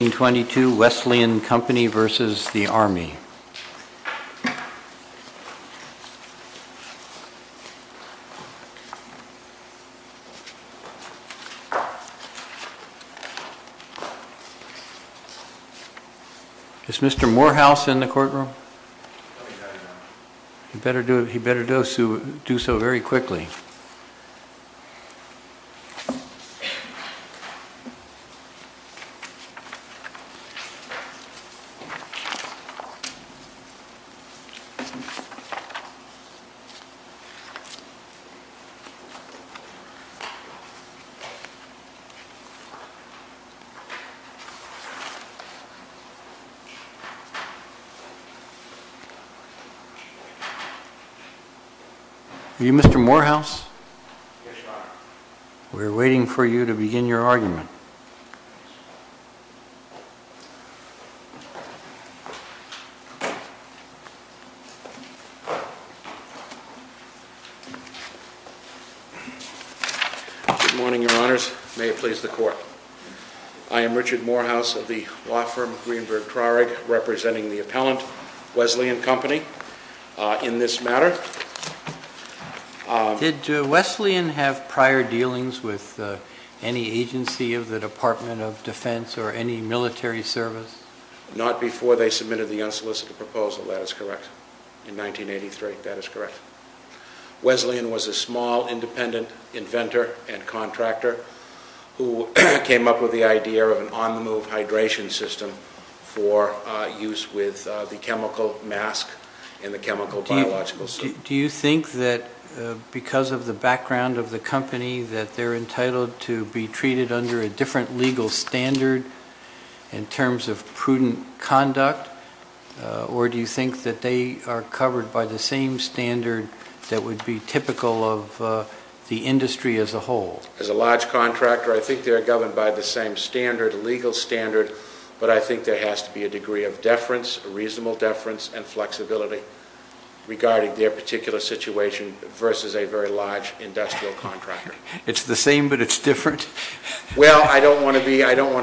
1922 Wesleyan Company v. Army Is Mr. Morehouse in the courtroom? He better do so very quickly Are you Mr. Morehouse? Yes, Your Honor We're waiting for you to begin your argument. Good morning, Your Honors. May it please the Court. I am Richard Morehouse of the law firm Greenberg-Trarig, representing the appellant, Wesleyan Company, in this matter. Did Wesleyan have prior dealings with any agency of the Department of Defense or any military service? Not before they submitted the unsolicited proposal, that is correct. In 1983, that is correct. Wesleyan was a small, independent inventor and contractor who came up with the idea of an on-the-move hydration system for use with the chemical mask and the chemical biological suit. Do you think that because of the background of the company that they're entitled to be treated under a different legal standard in terms of prudent conduct? Or do you think that they are covered by the same standard that would be typical of the industry as a whole? As a large contractor, I think they are governed by the same standard, legal standard, but I think there has to be a degree of deference, reasonable deference, and flexibility regarding their particular situation versus a very large industrial contractor. It's the same, but it's different? Well, I don't want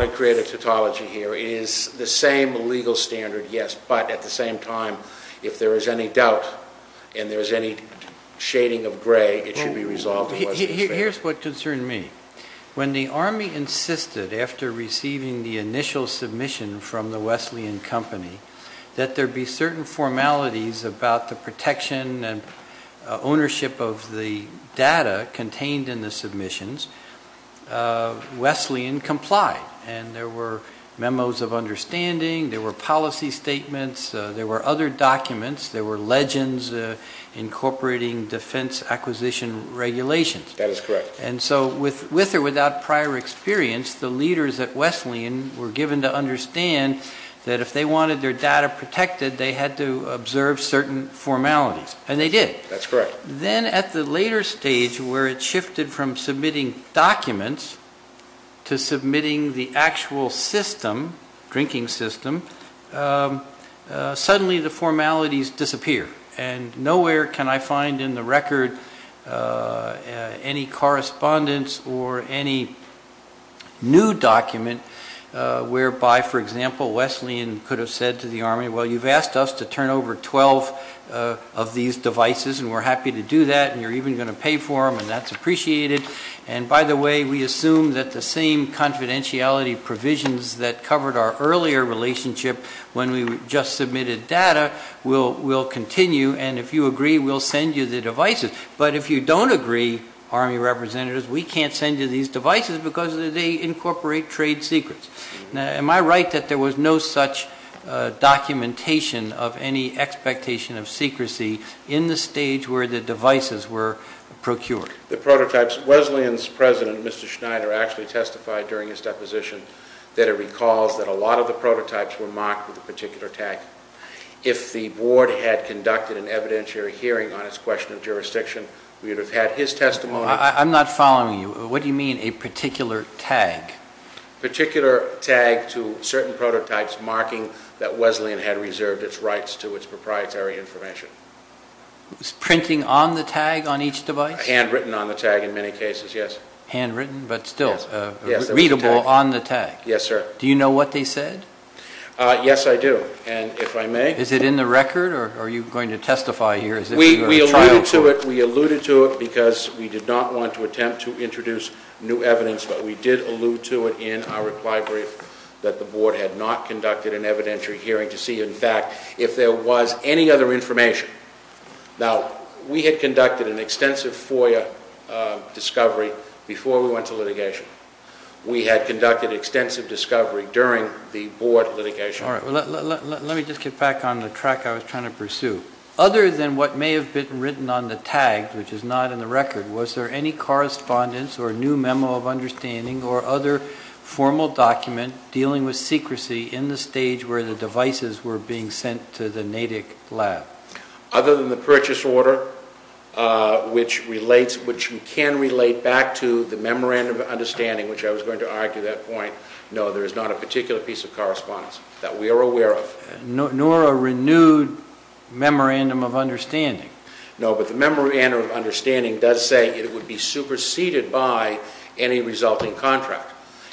to create a tautology here. It is the same legal standard, yes, but at the same time, if there is any doubt and there is any shading of gray, it should be resolved. Here's what concerned me. When the Army insisted, after receiving the initial submission from the Wesleyan Company, that there be certain formalities about the protection and ownership of the data contained in the submissions, Wesleyan complied, and there were memos of understanding, there were policy statements, there were other documents, there were legends incorporating defense acquisition regulations. That is correct. And so with or without prior experience, the leaders at Wesleyan were given to understand that if they wanted their data protected, they had to observe certain formalities, and they did. That's correct. But then at the later stage where it shifted from submitting documents to submitting the actual system, drinking system, suddenly the formalities disappear, and nowhere can I find in the record any correspondence or any new document whereby, for example, Wesleyan could have said to the Army, well, you've asked us to turn over 12 of these devices, and we're happy to do that, and you're even going to pay for them, and that's appreciated. And by the way, we assume that the same confidentiality provisions that covered our earlier relationship when we just submitted data will continue, and if you agree, we'll send you the devices. But if you don't agree, Army representatives, we can't send you these devices because they incorporate trade secrets. Now, am I right that there was no such documentation of any expectation of secrecy in the stage where the devices were procured? The prototypes. Wesleyan's president, Mr. Schneider, actually testified during his deposition that it recalls that a lot of the prototypes were marked with a particular tag. If the board had conducted an evidentiary hearing on its question of jurisdiction, we would have had his testimony. I'm not following you. What do you mean a particular tag? A particular tag to certain prototypes marking that Wesleyan had reserved its rights to its proprietary information. Was printing on the tag on each device? Handwritten on the tag in many cases, yes. Handwritten, but still readable on the tag? Yes, sir. Do you know what they said? Yes, I do, and if I may. Is it in the record, or are you going to testify here as if you are a trial court? We alluded to it because we did not want to attempt to introduce new evidence, but we did allude to it in our reply brief that the board had not conducted an evidentiary hearing to see, in fact, if there was any other information. Now, we had conducted an extensive FOIA discovery before we went to litigation. We had conducted extensive discovery during the board litigation. Let me just get back on the track I was trying to pursue. Other than what may have been written on the tag, which is not in the record, was there any correspondence or new memo of understanding or other formal document dealing with secrecy in the stage where the devices were being sent to the Natick lab? Other than the purchase order, which you can relate back to the memorandum of understanding, which I was going to argue at that point, no, there is not a particular piece of correspondence that we are aware of. Nor a renewed memorandum of understanding. No, but the memorandum of understanding does say it would be superseded by any resulting contract.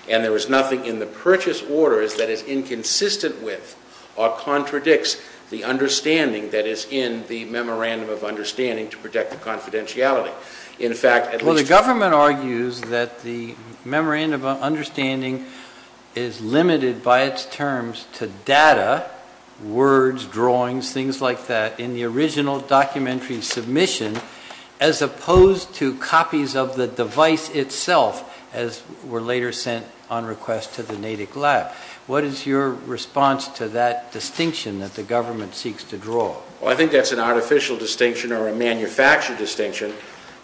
And there is nothing in the purchase orders that is inconsistent with or contradicts the understanding that is in the memorandum of understanding to protect the confidentiality. Well, the government argues that the memorandum of understanding is limited by its terms to data, words, drawings, things like that, in the original documentary submission as opposed to copies of the device itself as were later sent on request to the Natick lab. What is your response to that distinction that the government seeks to draw? Well, I think that's an artificial distinction or a manufactured distinction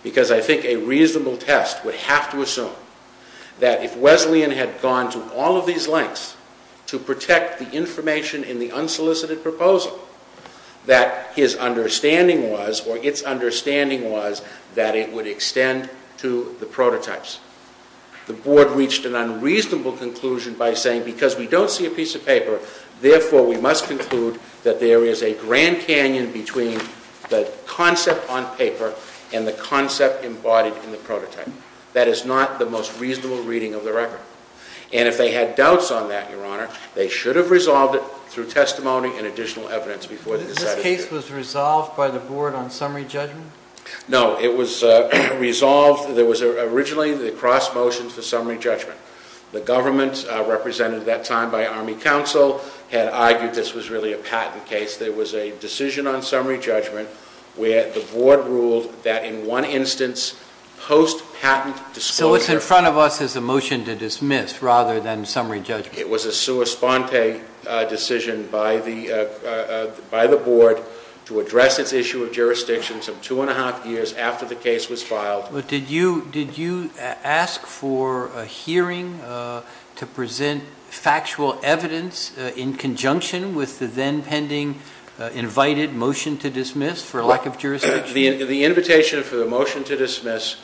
because I think a reasonable test would have to assume that if Wesleyan had gone to all of these lengths to protect the information in the unsolicited proposal, that his understanding was, or its understanding was, that it would extend to the prototypes. The board reached an unreasonable conclusion by saying, because we don't see a piece of paper, therefore we must conclude that there is a grand canyon between the concept on paper and the concept embodied in the prototype. That is not the most reasonable reading of the record. And if they had doubts on that, Your Honor, they should have resolved it through testimony and additional evidence before they decided to do it. This case was resolved by the board on summary judgment? No, it was resolved. There was originally the cross motion for summary judgment. The government, represented at that time by Army Council, had argued this was really a patent case. There was a decision on summary judgment where the board ruled that in one instance, post-patent disclosure... So it's in front of us as a motion to dismiss rather than summary judgment. It was a sua sponte decision by the board to address its issue of jurisdiction some two and a half years after the case was filed. But did you ask for a hearing to present factual evidence in conjunction with the then pending invited motion to dismiss for lack of jurisdiction? The invitation for the motion to dismiss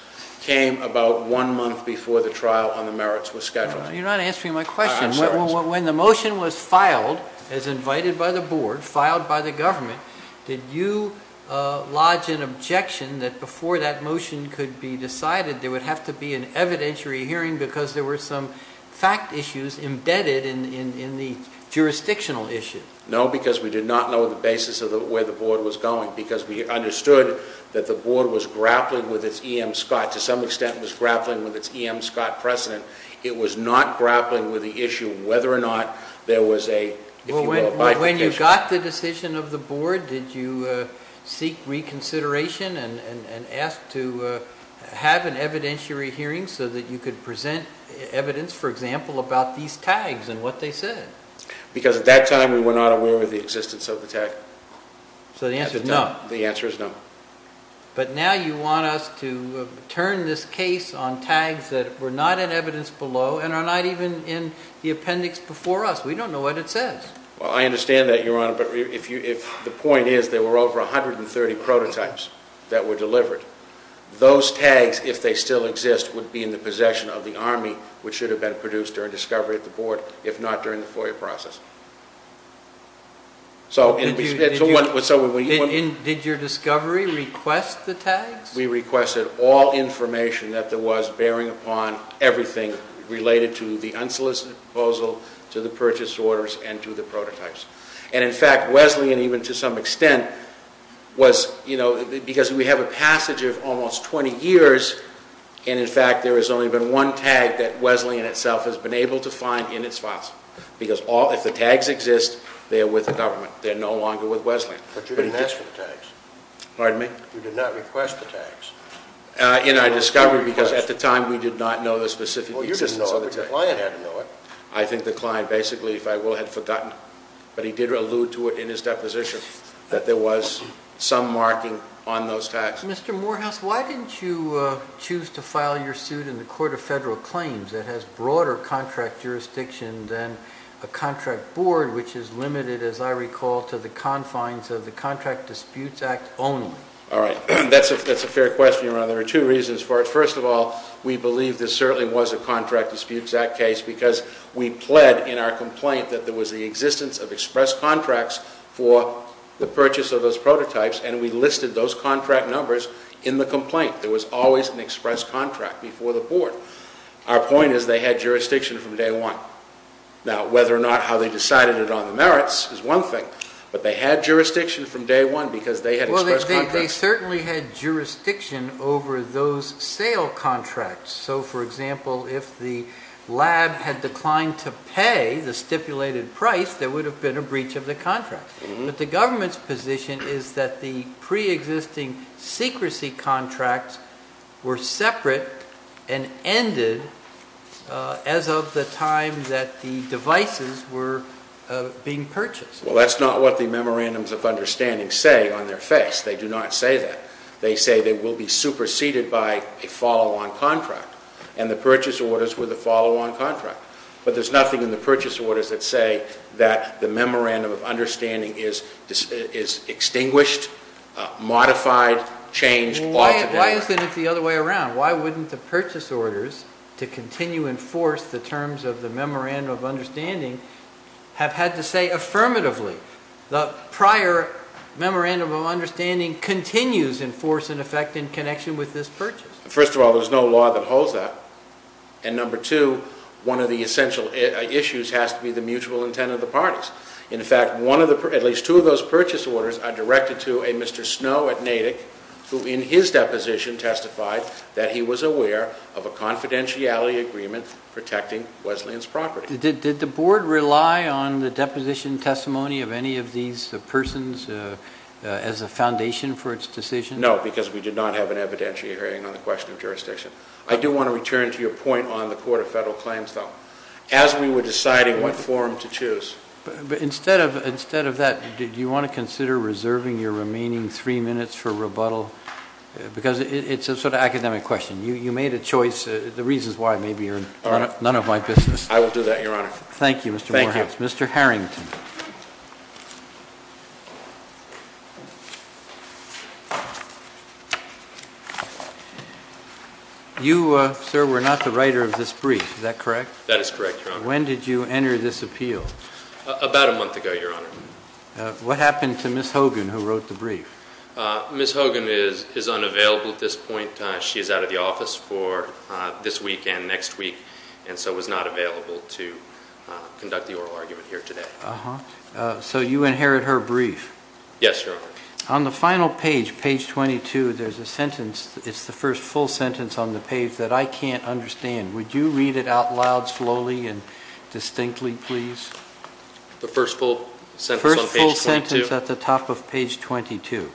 came about one month before the trial on the merits was scheduled. You're not answering my question. When the motion was filed, as invited by the board, filed by the government, did you lodge an objection that before that motion could be decided, there would have to be an evidentiary hearing because there were some fact issues embedded in the jurisdictional issue? No, because we did not know the basis of where the board was going. Because we understood that the board was grappling with its E.M. Scott, to some extent was grappling with its E.M. Scott precedent. It was not grappling with the issue of whether or not there was a... When you got the decision of the board, did you seek reconsideration and ask to have an evidentiary hearing so that you could present evidence, for example, about these tags and what they said? Because at that time we were not aware of the existence of the tag. So the answer is no. The answer is no. But now you want us to turn this case on tags that were not in evidence below and are not even in the appendix before us. We don't know what it says. Well, I understand that, Your Honor, but the point is there were over 130 prototypes that were delivered. Those tags, if they still exist, would be in the possession of the Army, which should have been produced during discovery at the board, if not during the FOIA process. Did your discovery request the tags? We requested all information that there was bearing upon everything related to the unsolicited proposal, to the purchase orders, and to the prototypes. And in fact, Wesleyan, even to some extent, was... Because we have a passage of almost 20 years, and in fact there has only been one tag that Wesleyan itself has been able to find in its files. Because if the tags exist, they are with the government. They're no longer with Wesleyan. But you didn't ask for the tags. Pardon me? You did not request the tags. I discovered because at the time we did not know the specific existence of the tags. Well, you didn't know it, but the client had to know it. I think the client basically, if I will, had forgotten it. But he did allude to it in his deposition, that there was some marking on those tags. Mr. Morehouse, why didn't you choose to file your suit in the Court of Federal Claims that has broader contract jurisdiction than a contract board, which is limited, as I recall, to the confines of the Contract Disputes Act only? All right. That's a fair question, Your Honor. There are two reasons for it. First of all, we believe this certainly was a Contract Disputes Act case because we pled in our complaint that there was the existence of express contracts for the purchase of those prototypes, and we listed those contract numbers in the complaint. There was always an express contract before the board. Our point is they had jurisdiction from day one. Now, whether or not how they decided it on the merits is one thing, but they had jurisdiction from day one because they had express contracts. But they certainly had jurisdiction over those sale contracts. So, for example, if the lab had declined to pay the stipulated price, there would have been a breach of the contract. But the government's position is that the preexisting secrecy contracts were separate and ended as of the time that the devices were being purchased. Well, that's not what the Memorandums of Understanding say on their face. They do not say that. They say they will be superseded by a follow-on contract, and the purchase orders were the follow-on contract. But there's nothing in the purchase orders that say that the Memorandum of Understanding is extinguished, modified, changed altogether. Why isn't it the other way around? Why wouldn't the purchase orders to continue and force the terms of the Memorandum of Understanding have had to say affirmatively, the prior Memorandum of Understanding continues in force and effect in connection with this purchase? First of all, there's no law that holds that. And number two, one of the essential issues has to be the mutual intent of the parties. In fact, at least two of those purchase orders are directed to a Mr. Snow at Natick, who in his deposition testified that he was aware of a confidentiality agreement protecting Wesleyan's property. Did the board rely on the deposition testimony of any of these persons as a foundation for its decision? No, because we did not have an evidentiary hearing on the question of jurisdiction. I do want to return to your point on the Court of Federal Claims, though. As we were deciding what forum to choose. But instead of that, do you want to consider reserving your remaining three minutes for rebuttal? Because it's a sort of academic question. You made a choice. The reason is why. Maybe you're none of my business. I will do that, Your Honor. Thank you, Mr. Morehouse. Thank you. Mr. Harrington. You, sir, were not the writer of this brief. Is that correct? That is correct, Your Honor. When did you enter this appeal? About a month ago, Your Honor. What happened to Ms. Hogan, who wrote the brief? Ms. Hogan is unavailable at this point. She is out of the office for this week and next week, and so was not available to conduct the oral argument here today. So you inherit her brief? Yes, Your Honor. On the final page, page 22, there's a sentence. It's the first full sentence on the page that I can't understand. Would you read it out loud slowly and distinctly, please? The first full sentence on page 22? The first full sentence at the top of page 22.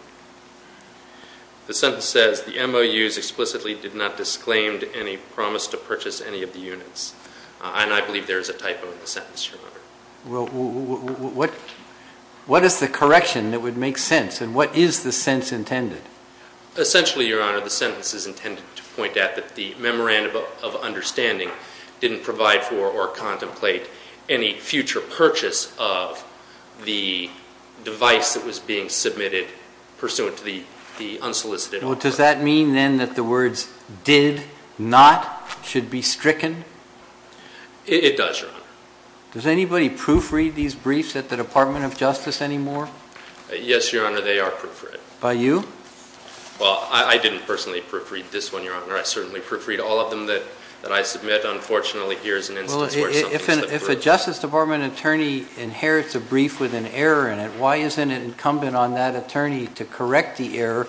The sentence says, The MOUs explicitly did not disclaim any promise to purchase any of the units. And I believe there is a typo in the sentence, Your Honor. Well, what is the correction that would make sense, and what is the sense intended? Essentially, Your Honor, the sentence is intended to point out that the memorandum of understanding didn't provide for or contemplate any future purchase of the device that was being submitted pursuant to the unsolicited order. Does that mean, then, that the words did not should be stricken? It does, Your Honor. Does anybody proofread these briefs at the Department of Justice anymore? Yes, Your Honor, they are proofread. By you? Well, I didn't personally proofread this one, Your Honor. I certainly proofread all of them that I submit. Unfortunately, here is an instance where something slipped through. If a Justice Department attorney inherits a brief with an error in it, why isn't it incumbent on that attorney to correct the error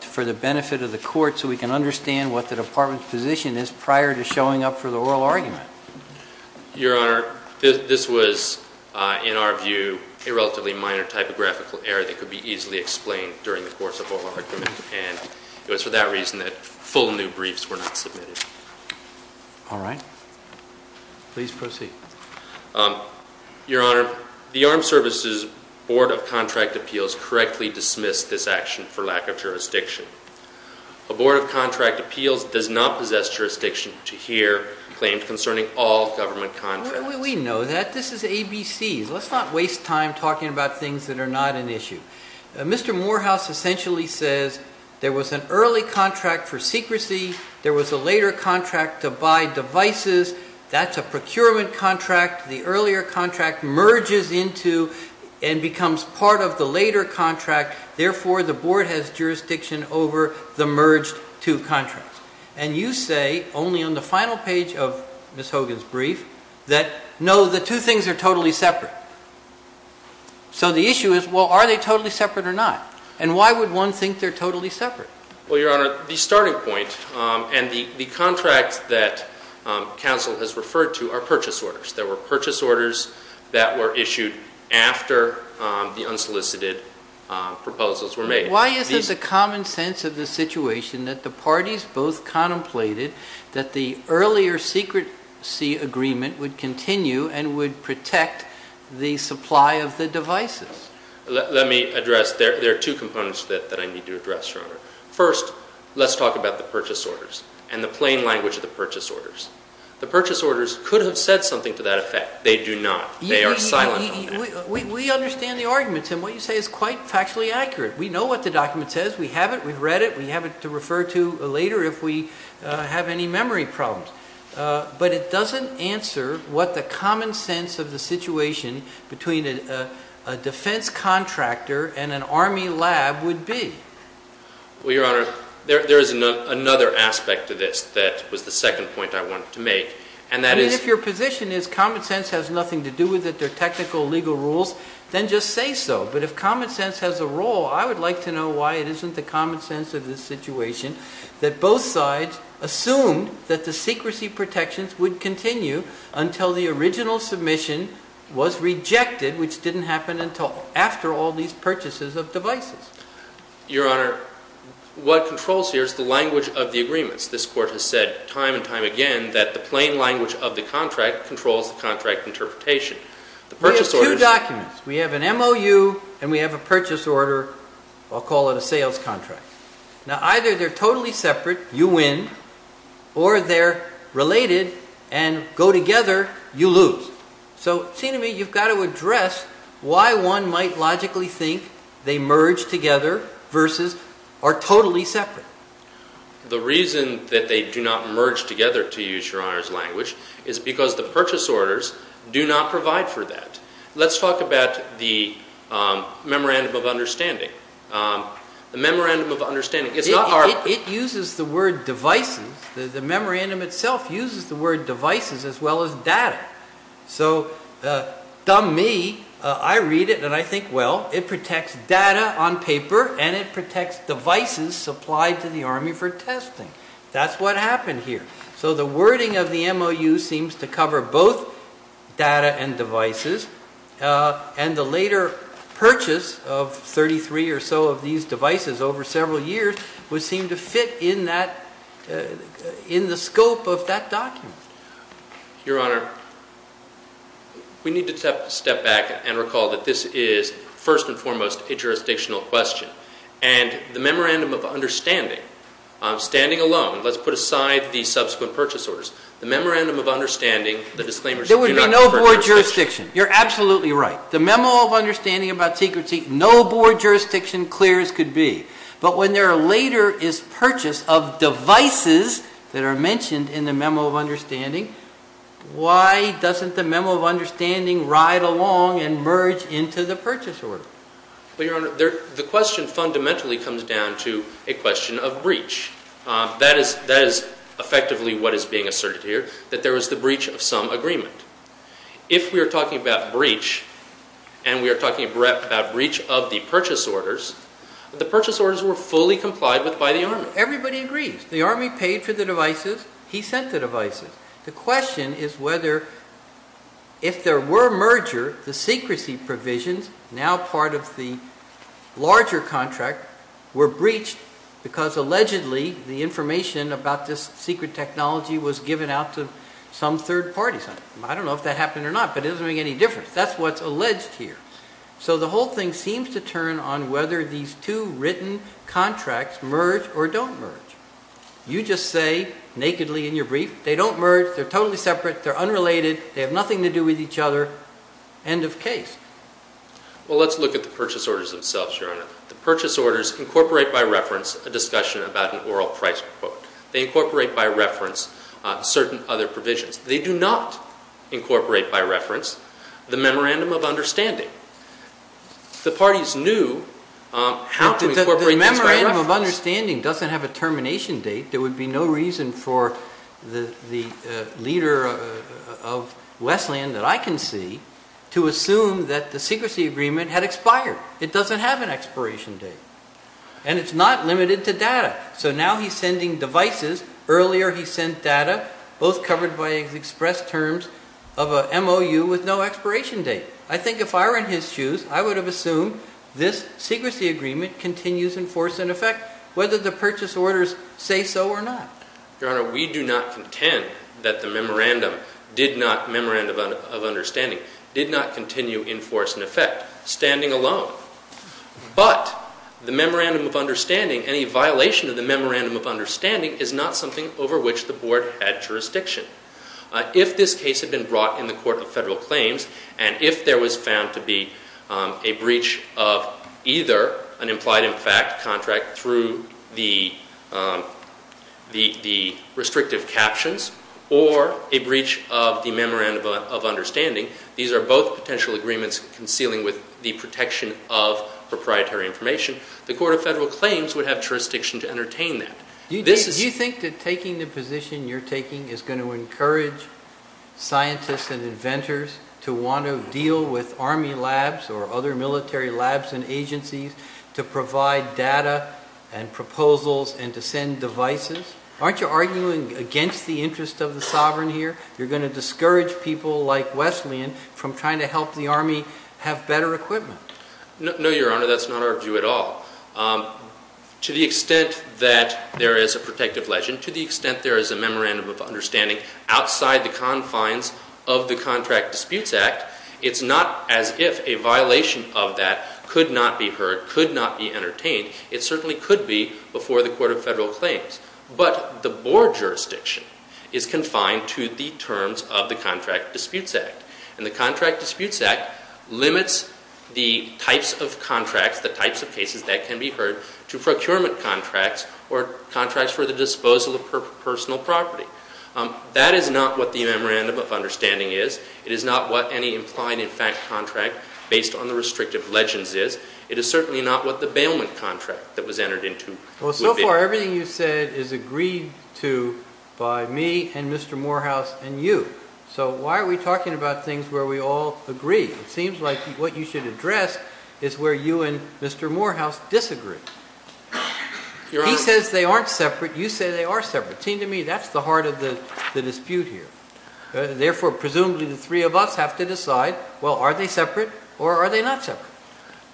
for the benefit of the court so we can understand what the Department's position is prior to showing up for the oral argument? Your Honor, this was, in our view, a relatively minor typographical error that could be easily explained during the course of oral argument, and it was for that reason that full new briefs were not submitted. All right. Please proceed. Your Honor, the Armed Services Board of Contract Appeals correctly dismissed this action for lack of jurisdiction. A Board of Contract Appeals does not possess jurisdiction to hear claims concerning all government contracts. We know that. This is ABCs. Let's not waste time talking about things that are not an issue. Mr. Morehouse essentially says there was an early contract for secrecy. There was a later contract to buy devices. That's a procurement contract. The earlier contract merges into and becomes part of the later contract. Therefore, the Board has jurisdiction over the merged two contracts. And you say, only on the final page of Ms. Hogan's brief, that no, the two things are totally separate. So the issue is, well, are they totally separate or not? And why would one think they're totally separate? Well, Your Honor, the starting point and the contract that counsel has referred to are purchase orders. There were purchase orders that were issued after the unsolicited proposals were made. Why is this a common sense of the situation that the parties both contemplated that the earlier secrecy agreement would continue and would protect the supply of the devices? Let me address, there are two components that I need to address, Your Honor. First, let's talk about the purchase orders and the plain language of the purchase orders. The purchase orders could have said something to that effect. They do not. They are silent on that. We understand the arguments, and what you say is quite factually accurate. We know what the document says. We have it. We've read it. We have it to refer to later if we have any memory problems. But it doesn't answer what the common sense of the situation between a defense contractor and an Army lab would be. Well, Your Honor, there is another aspect to this that was the second point I wanted to make, and that is If your position is common sense has nothing to do with it, they're technical legal rules, then just say so. But if common sense has a role, I would like to know why it isn't the common sense of this situation that both sides assumed that the secrecy protections would continue until the original submission was rejected, which didn't happen until after all these purchases of devices. Your Honor, what controls here is the language of the agreements. This Court has said time and time again that the plain language of the contract controls the contract interpretation. We have two documents. We have an MOU, and we have a purchase order. I'll call it a sales contract. Now, either they're totally separate, you win, or they're related and go together, you lose. So, see to me, you've got to address why one might logically think they merge together versus are totally separate. The reason that they do not merge together, to use Your Honor's language, is because the purchase orders do not provide for that. Let's talk about the memorandum of understanding. The memorandum of understanding, it's not our... It uses the word devices. The memorandum itself uses the word devices as well as data. So, dumb me, I read it, and I think, well, it protects data on paper, and it protects devices supplied to the Army for testing. That's what happened here. So the wording of the MOU seems to cover both data and devices, and the later purchase of 33 or so of these devices over several years would seem to fit in the scope of that document. Your Honor, we need to step back and recall that this is, first and foremost, a jurisdictional question, and the memorandum of understanding, standing alone, let's put aside the subsequent purchase orders, the memorandum of understanding, the disclaimers do not... So no board jurisdiction. You're absolutely right. The memo of understanding about secrecy, no board jurisdiction, clear as could be. But when there later is purchase of devices that are mentioned in the memo of understanding, why doesn't the memo of understanding ride along and merge into the purchase order? Well, Your Honor, the question fundamentally comes down to a question of breach. That is effectively what is being asserted here, that there was the breach of some agreement. If we are talking about breach, and we are talking about breach of the purchase orders, the purchase orders were fully complied with by the Army. Everybody agrees. The Army paid for the devices. He sent the devices. The question is whether if there were merger, the secrecy provisions, now part of the larger contract, were breached because allegedly the information about this secret technology was given out to some third parties. I don't know if that happened or not, but it doesn't make any difference. That's what's alleged here. So the whole thing seems to turn on whether these two written contracts merge or don't merge. You just say nakedly in your brief, they don't merge. They're totally separate. They're unrelated. They have nothing to do with each other. Well, let's look at the purchase orders themselves, Your Honor. The purchase orders incorporate by reference a discussion about an oral price quote. They incorporate by reference certain other provisions. They do not incorporate by reference the memorandum of understanding. The parties knew how to incorporate these by reference. The memorandum of understanding doesn't have a termination date. There would be no reason for the leader of Westland that I can see to assume that the secrecy agreement had expired. It doesn't have an expiration date. And it's not limited to data. So now he's sending devices. Earlier he sent data, both covered by express terms of a MOU with no expiration date. I think if I were in his shoes, I would have assumed this secrecy agreement continues in force and effect, whether the purchase orders say so or not. Your Honor, we do not contend that the memorandum did not, memorandum of understanding, did not continue in force and effect. Standing alone. But the memorandum of understanding, any violation of the memorandum of understanding is not something over which the board had jurisdiction. If this case had been brought in the court of federal claims and if there was found to be a breach of either an implied in fact contract through the restrictive captions or a breach of the memorandum of understanding, these are both potential agreements concealing with the protection of proprietary information, the court of federal claims would have jurisdiction to entertain that. Do you think that taking the position you're taking is going to encourage scientists and inventors to want to deal with Army labs or other military labs and agencies to provide data and proposals and to send devices? Aren't you arguing against the interest of the sovereign here? You're going to discourage people like Wesleyan from trying to help the Army have better equipment. No, Your Honor, that's not our view at all. To the extent that there is a protective legend, to the extent there is a memorandum of understanding outside the confines of the Contract Disputes Act, it's not as if a violation of that could not be heard, could not be entertained. It certainly could be before the court of federal claims. But the board jurisdiction is confined to the terms of the Contract Disputes Act. And the Contract Disputes Act limits the types of contracts, the types of cases that can be heard to procurement contracts or contracts for the disposal of personal property. That is not what the memorandum of understanding is. It is not what any implied in fact contract based on the restrictive legends is. It is certainly not what the bailment contract that was entered into would be. Well, so far, everything you've said is agreed to by me and Mr. Morehouse and you. So why are we talking about things where we all agree? It seems like what you should address is where you and Mr. Morehouse disagree. He says they aren't separate. You say they are separate. It seems to me that's the heart of the dispute here. Therefore, presumably, the three of us have to decide, well, are they separate or are they not separate?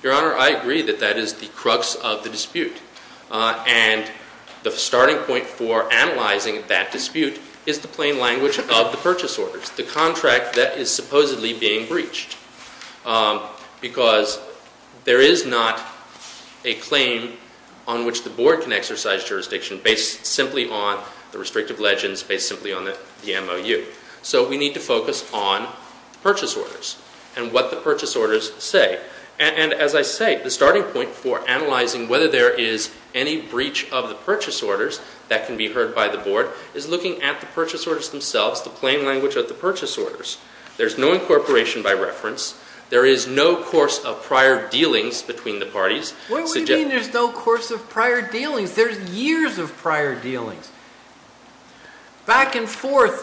Your Honor, I agree that that is the crux of the dispute. And the starting point for analyzing that dispute is the plain language of the purchase orders, the contract that is supposedly being breached. Because there is not a claim on which the board can exercise jurisdiction based simply on the restrictive legends, based simply on the MOU. So we need to focus on purchase orders. And what the purchase orders say. And as I say, the starting point for analyzing whether there is any breach of the purchase orders that can be heard by the board is looking at the purchase orders themselves, the plain language of the purchase orders. There's no incorporation by reference. There is no course of prior dealings between the parties. What do you mean there's no course of prior dealings? There's years of prior dealings. Back and forth,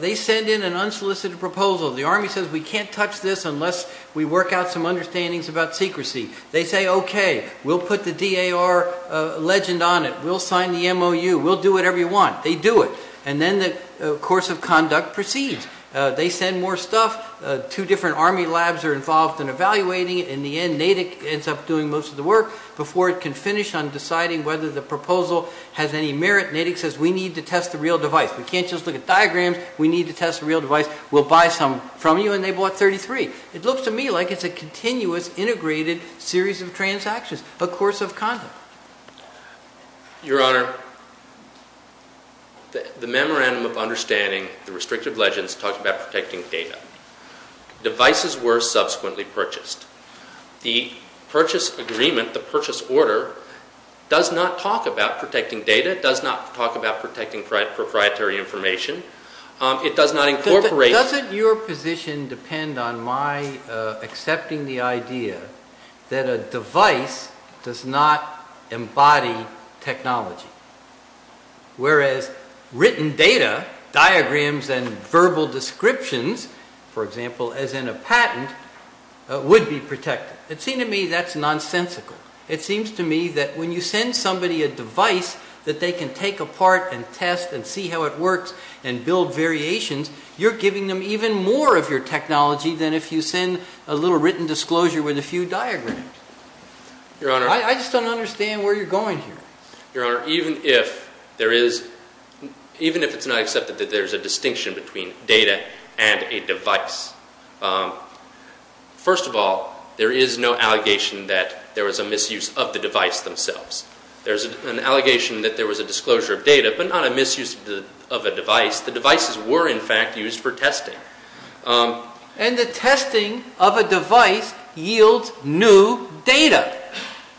they send in an unsolicited proposal. The Army says, we can't touch this unless we work out some understandings about secrecy. They say, okay, we'll put the DAR legend on it. We'll sign the MOU. We'll do whatever you want. They do it. And then the course of conduct proceeds. They send more stuff. Two different Army labs are involved in evaluating it. In the end, Natick ends up doing most of the work. Before it can finish on deciding whether the proposal has any merit, Natick says, we need to test the real device. We can't just look at diagrams. We need to test the real device. We'll buy some from you, and they bought 33. It looks to me like it's a continuous, integrated series of transactions, a course of conduct. Your Honor, the Memorandum of Understanding, the restrictive legends, talk about protecting data. Devices were subsequently purchased. The purchase agreement, the purchase order, does not talk about protecting data. It does not talk about protecting proprietary information. It does not incorporate. Doesn't your position depend on my accepting the idea that a device does not embody technology, whereas written data, diagrams, and verbal descriptions, for example, as in a patent, would be protected? It seems to me that's nonsensical. It seems to me that when you send somebody a device that they can take apart and test and see how it works and build variations, you're giving them even more of your technology than if you send a little written disclosure with a few diagrams. I just don't understand where you're going here. Your Honor, even if it's not accepted that there's a distinction between data and a device, first of all, there is no allegation that there was a misuse of the device themselves. There's an allegation that there was a disclosure of data, but not a misuse of a device. The devices were, in fact, used for testing. And the testing of a device yields new data.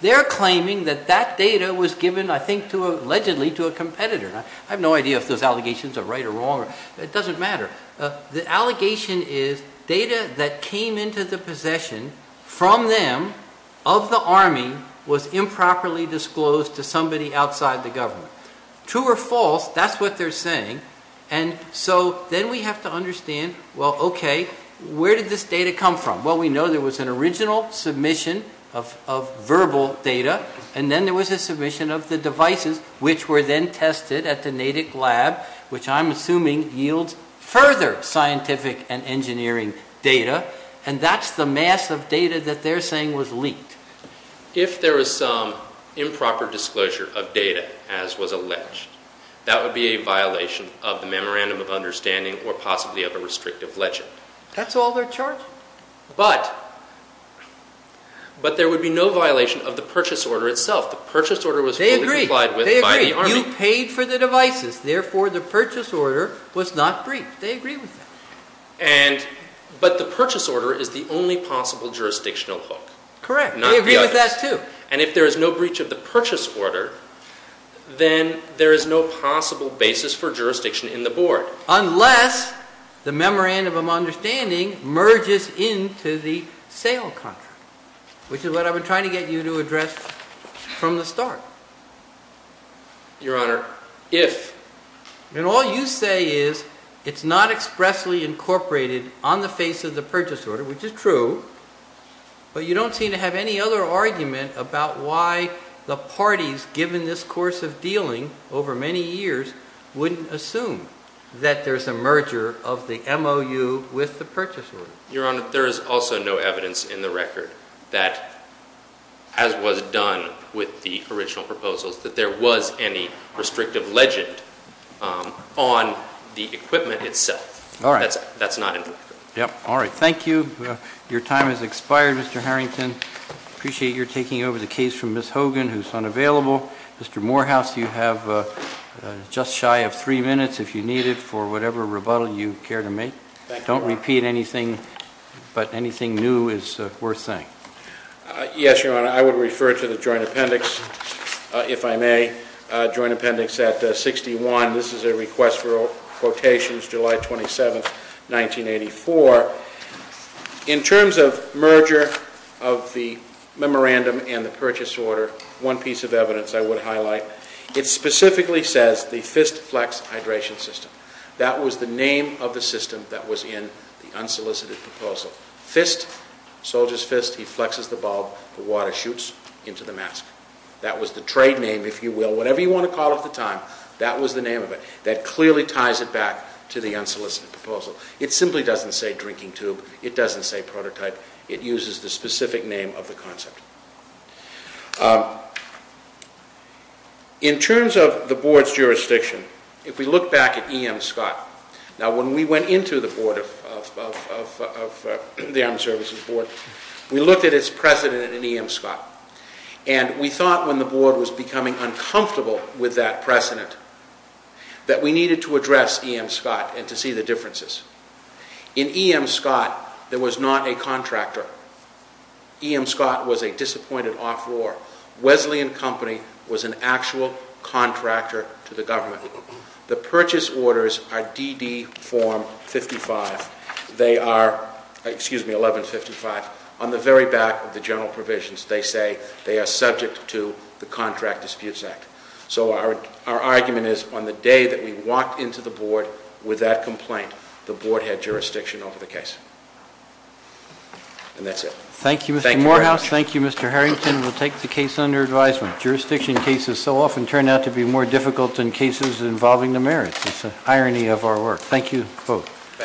They're claiming that that data was given, I think, allegedly to a competitor. I have no idea if those allegations are right or wrong. It doesn't matter. The allegation is data that came into the possession from them of the Army was improperly disclosed to somebody outside the government. True or false, that's what they're saying. And so then we have to understand, well, okay, where did this data come from? Well, we know there was an original submission of verbal data, and then there was a submission of the devices, which were then tested at the Natick Lab, which I'm assuming yields further scientific and engineering data, and that's the mass of data that they're saying was leaked. If there was some improper disclosure of data, as was alleged, that would be a violation of the Memorandum of Understanding or possibly of a restrictive legend. That's all they're charging. But there would be no violation of the purchase order itself. The purchase order was fully complied with by the Army. You paid for the devices, therefore the purchase order was not breached. They agree with that. But the purchase order is the only possible jurisdictional hook. Correct. They agree with that too. And if there is no breach of the purchase order, then there is no possible basis for jurisdiction in the board. Unless the Memorandum of Understanding merges into the sale contract, which is what I've been trying to get you to address from the start. Your Honor, if. And all you say is it's not expressly incorporated on the face of the purchase order, which is true, but you don't seem to have any other argument about why the parties, given this course of dealing over many years, wouldn't assume that there's a merger of the MOU with the purchase order. Your Honor, there is also no evidence in the record that, as was done with the original proposals, that there was any restrictive legend on the equipment itself. That's not in the record. All right. Thank you. Your time has expired, Mr. Harrington. I appreciate your taking over the case from Ms. Hogan, who's unavailable. Mr. Morehouse, you have just shy of three minutes, if you need it, for whatever rebuttal you care to make. Don't repeat anything, but anything new is worth saying. Yes, Your Honor. I would refer to the joint appendix, if I may, joint appendix at 61. This is a request for quotations, July 27th, 1984. In terms of merger of the memorandum and the purchase order, one piece of evidence I would highlight. It specifically says the FistFlex hydration system. That was the name of the system that was in the unsolicited proposal. Fist, soldier's fist, he flexes the bulb, the water shoots into the mask. That was the trade name, if you will. Whatever you want to call it at the time, that was the name of it. That clearly ties it back to the unsolicited proposal. It simply doesn't say drinking tube. It doesn't say prototype. It uses the specific name of the concept. In terms of the Board's jurisdiction, if we look back at E.M. Scott, now when we went into the Armed Services Board, we looked at its precedent in E.M. Scott, and we thought when the Board was becoming uncomfortable with that precedent that we needed to address E.M. Scott and to see the differences. In E.M. Scott, there was not a contractor. E.M. Scott was a disappointed off-roar. Wesleyan Company was an actual contractor to the government. The purchase orders are DD form 55. They are 1155. On the very back of the general provisions, they say they are subject to the Contract Disputes Act. Our argument is on the day that we walked into the Board with that complaint, the Board had jurisdiction over the case. And that's it. Thank you, Mr. Morehouse. Thank you, Mr. Harrington. We'll take the case under advisement. Jurisdiction cases so often turn out to be more difficult than cases involving the merits. It's an irony of our work. Thank you both.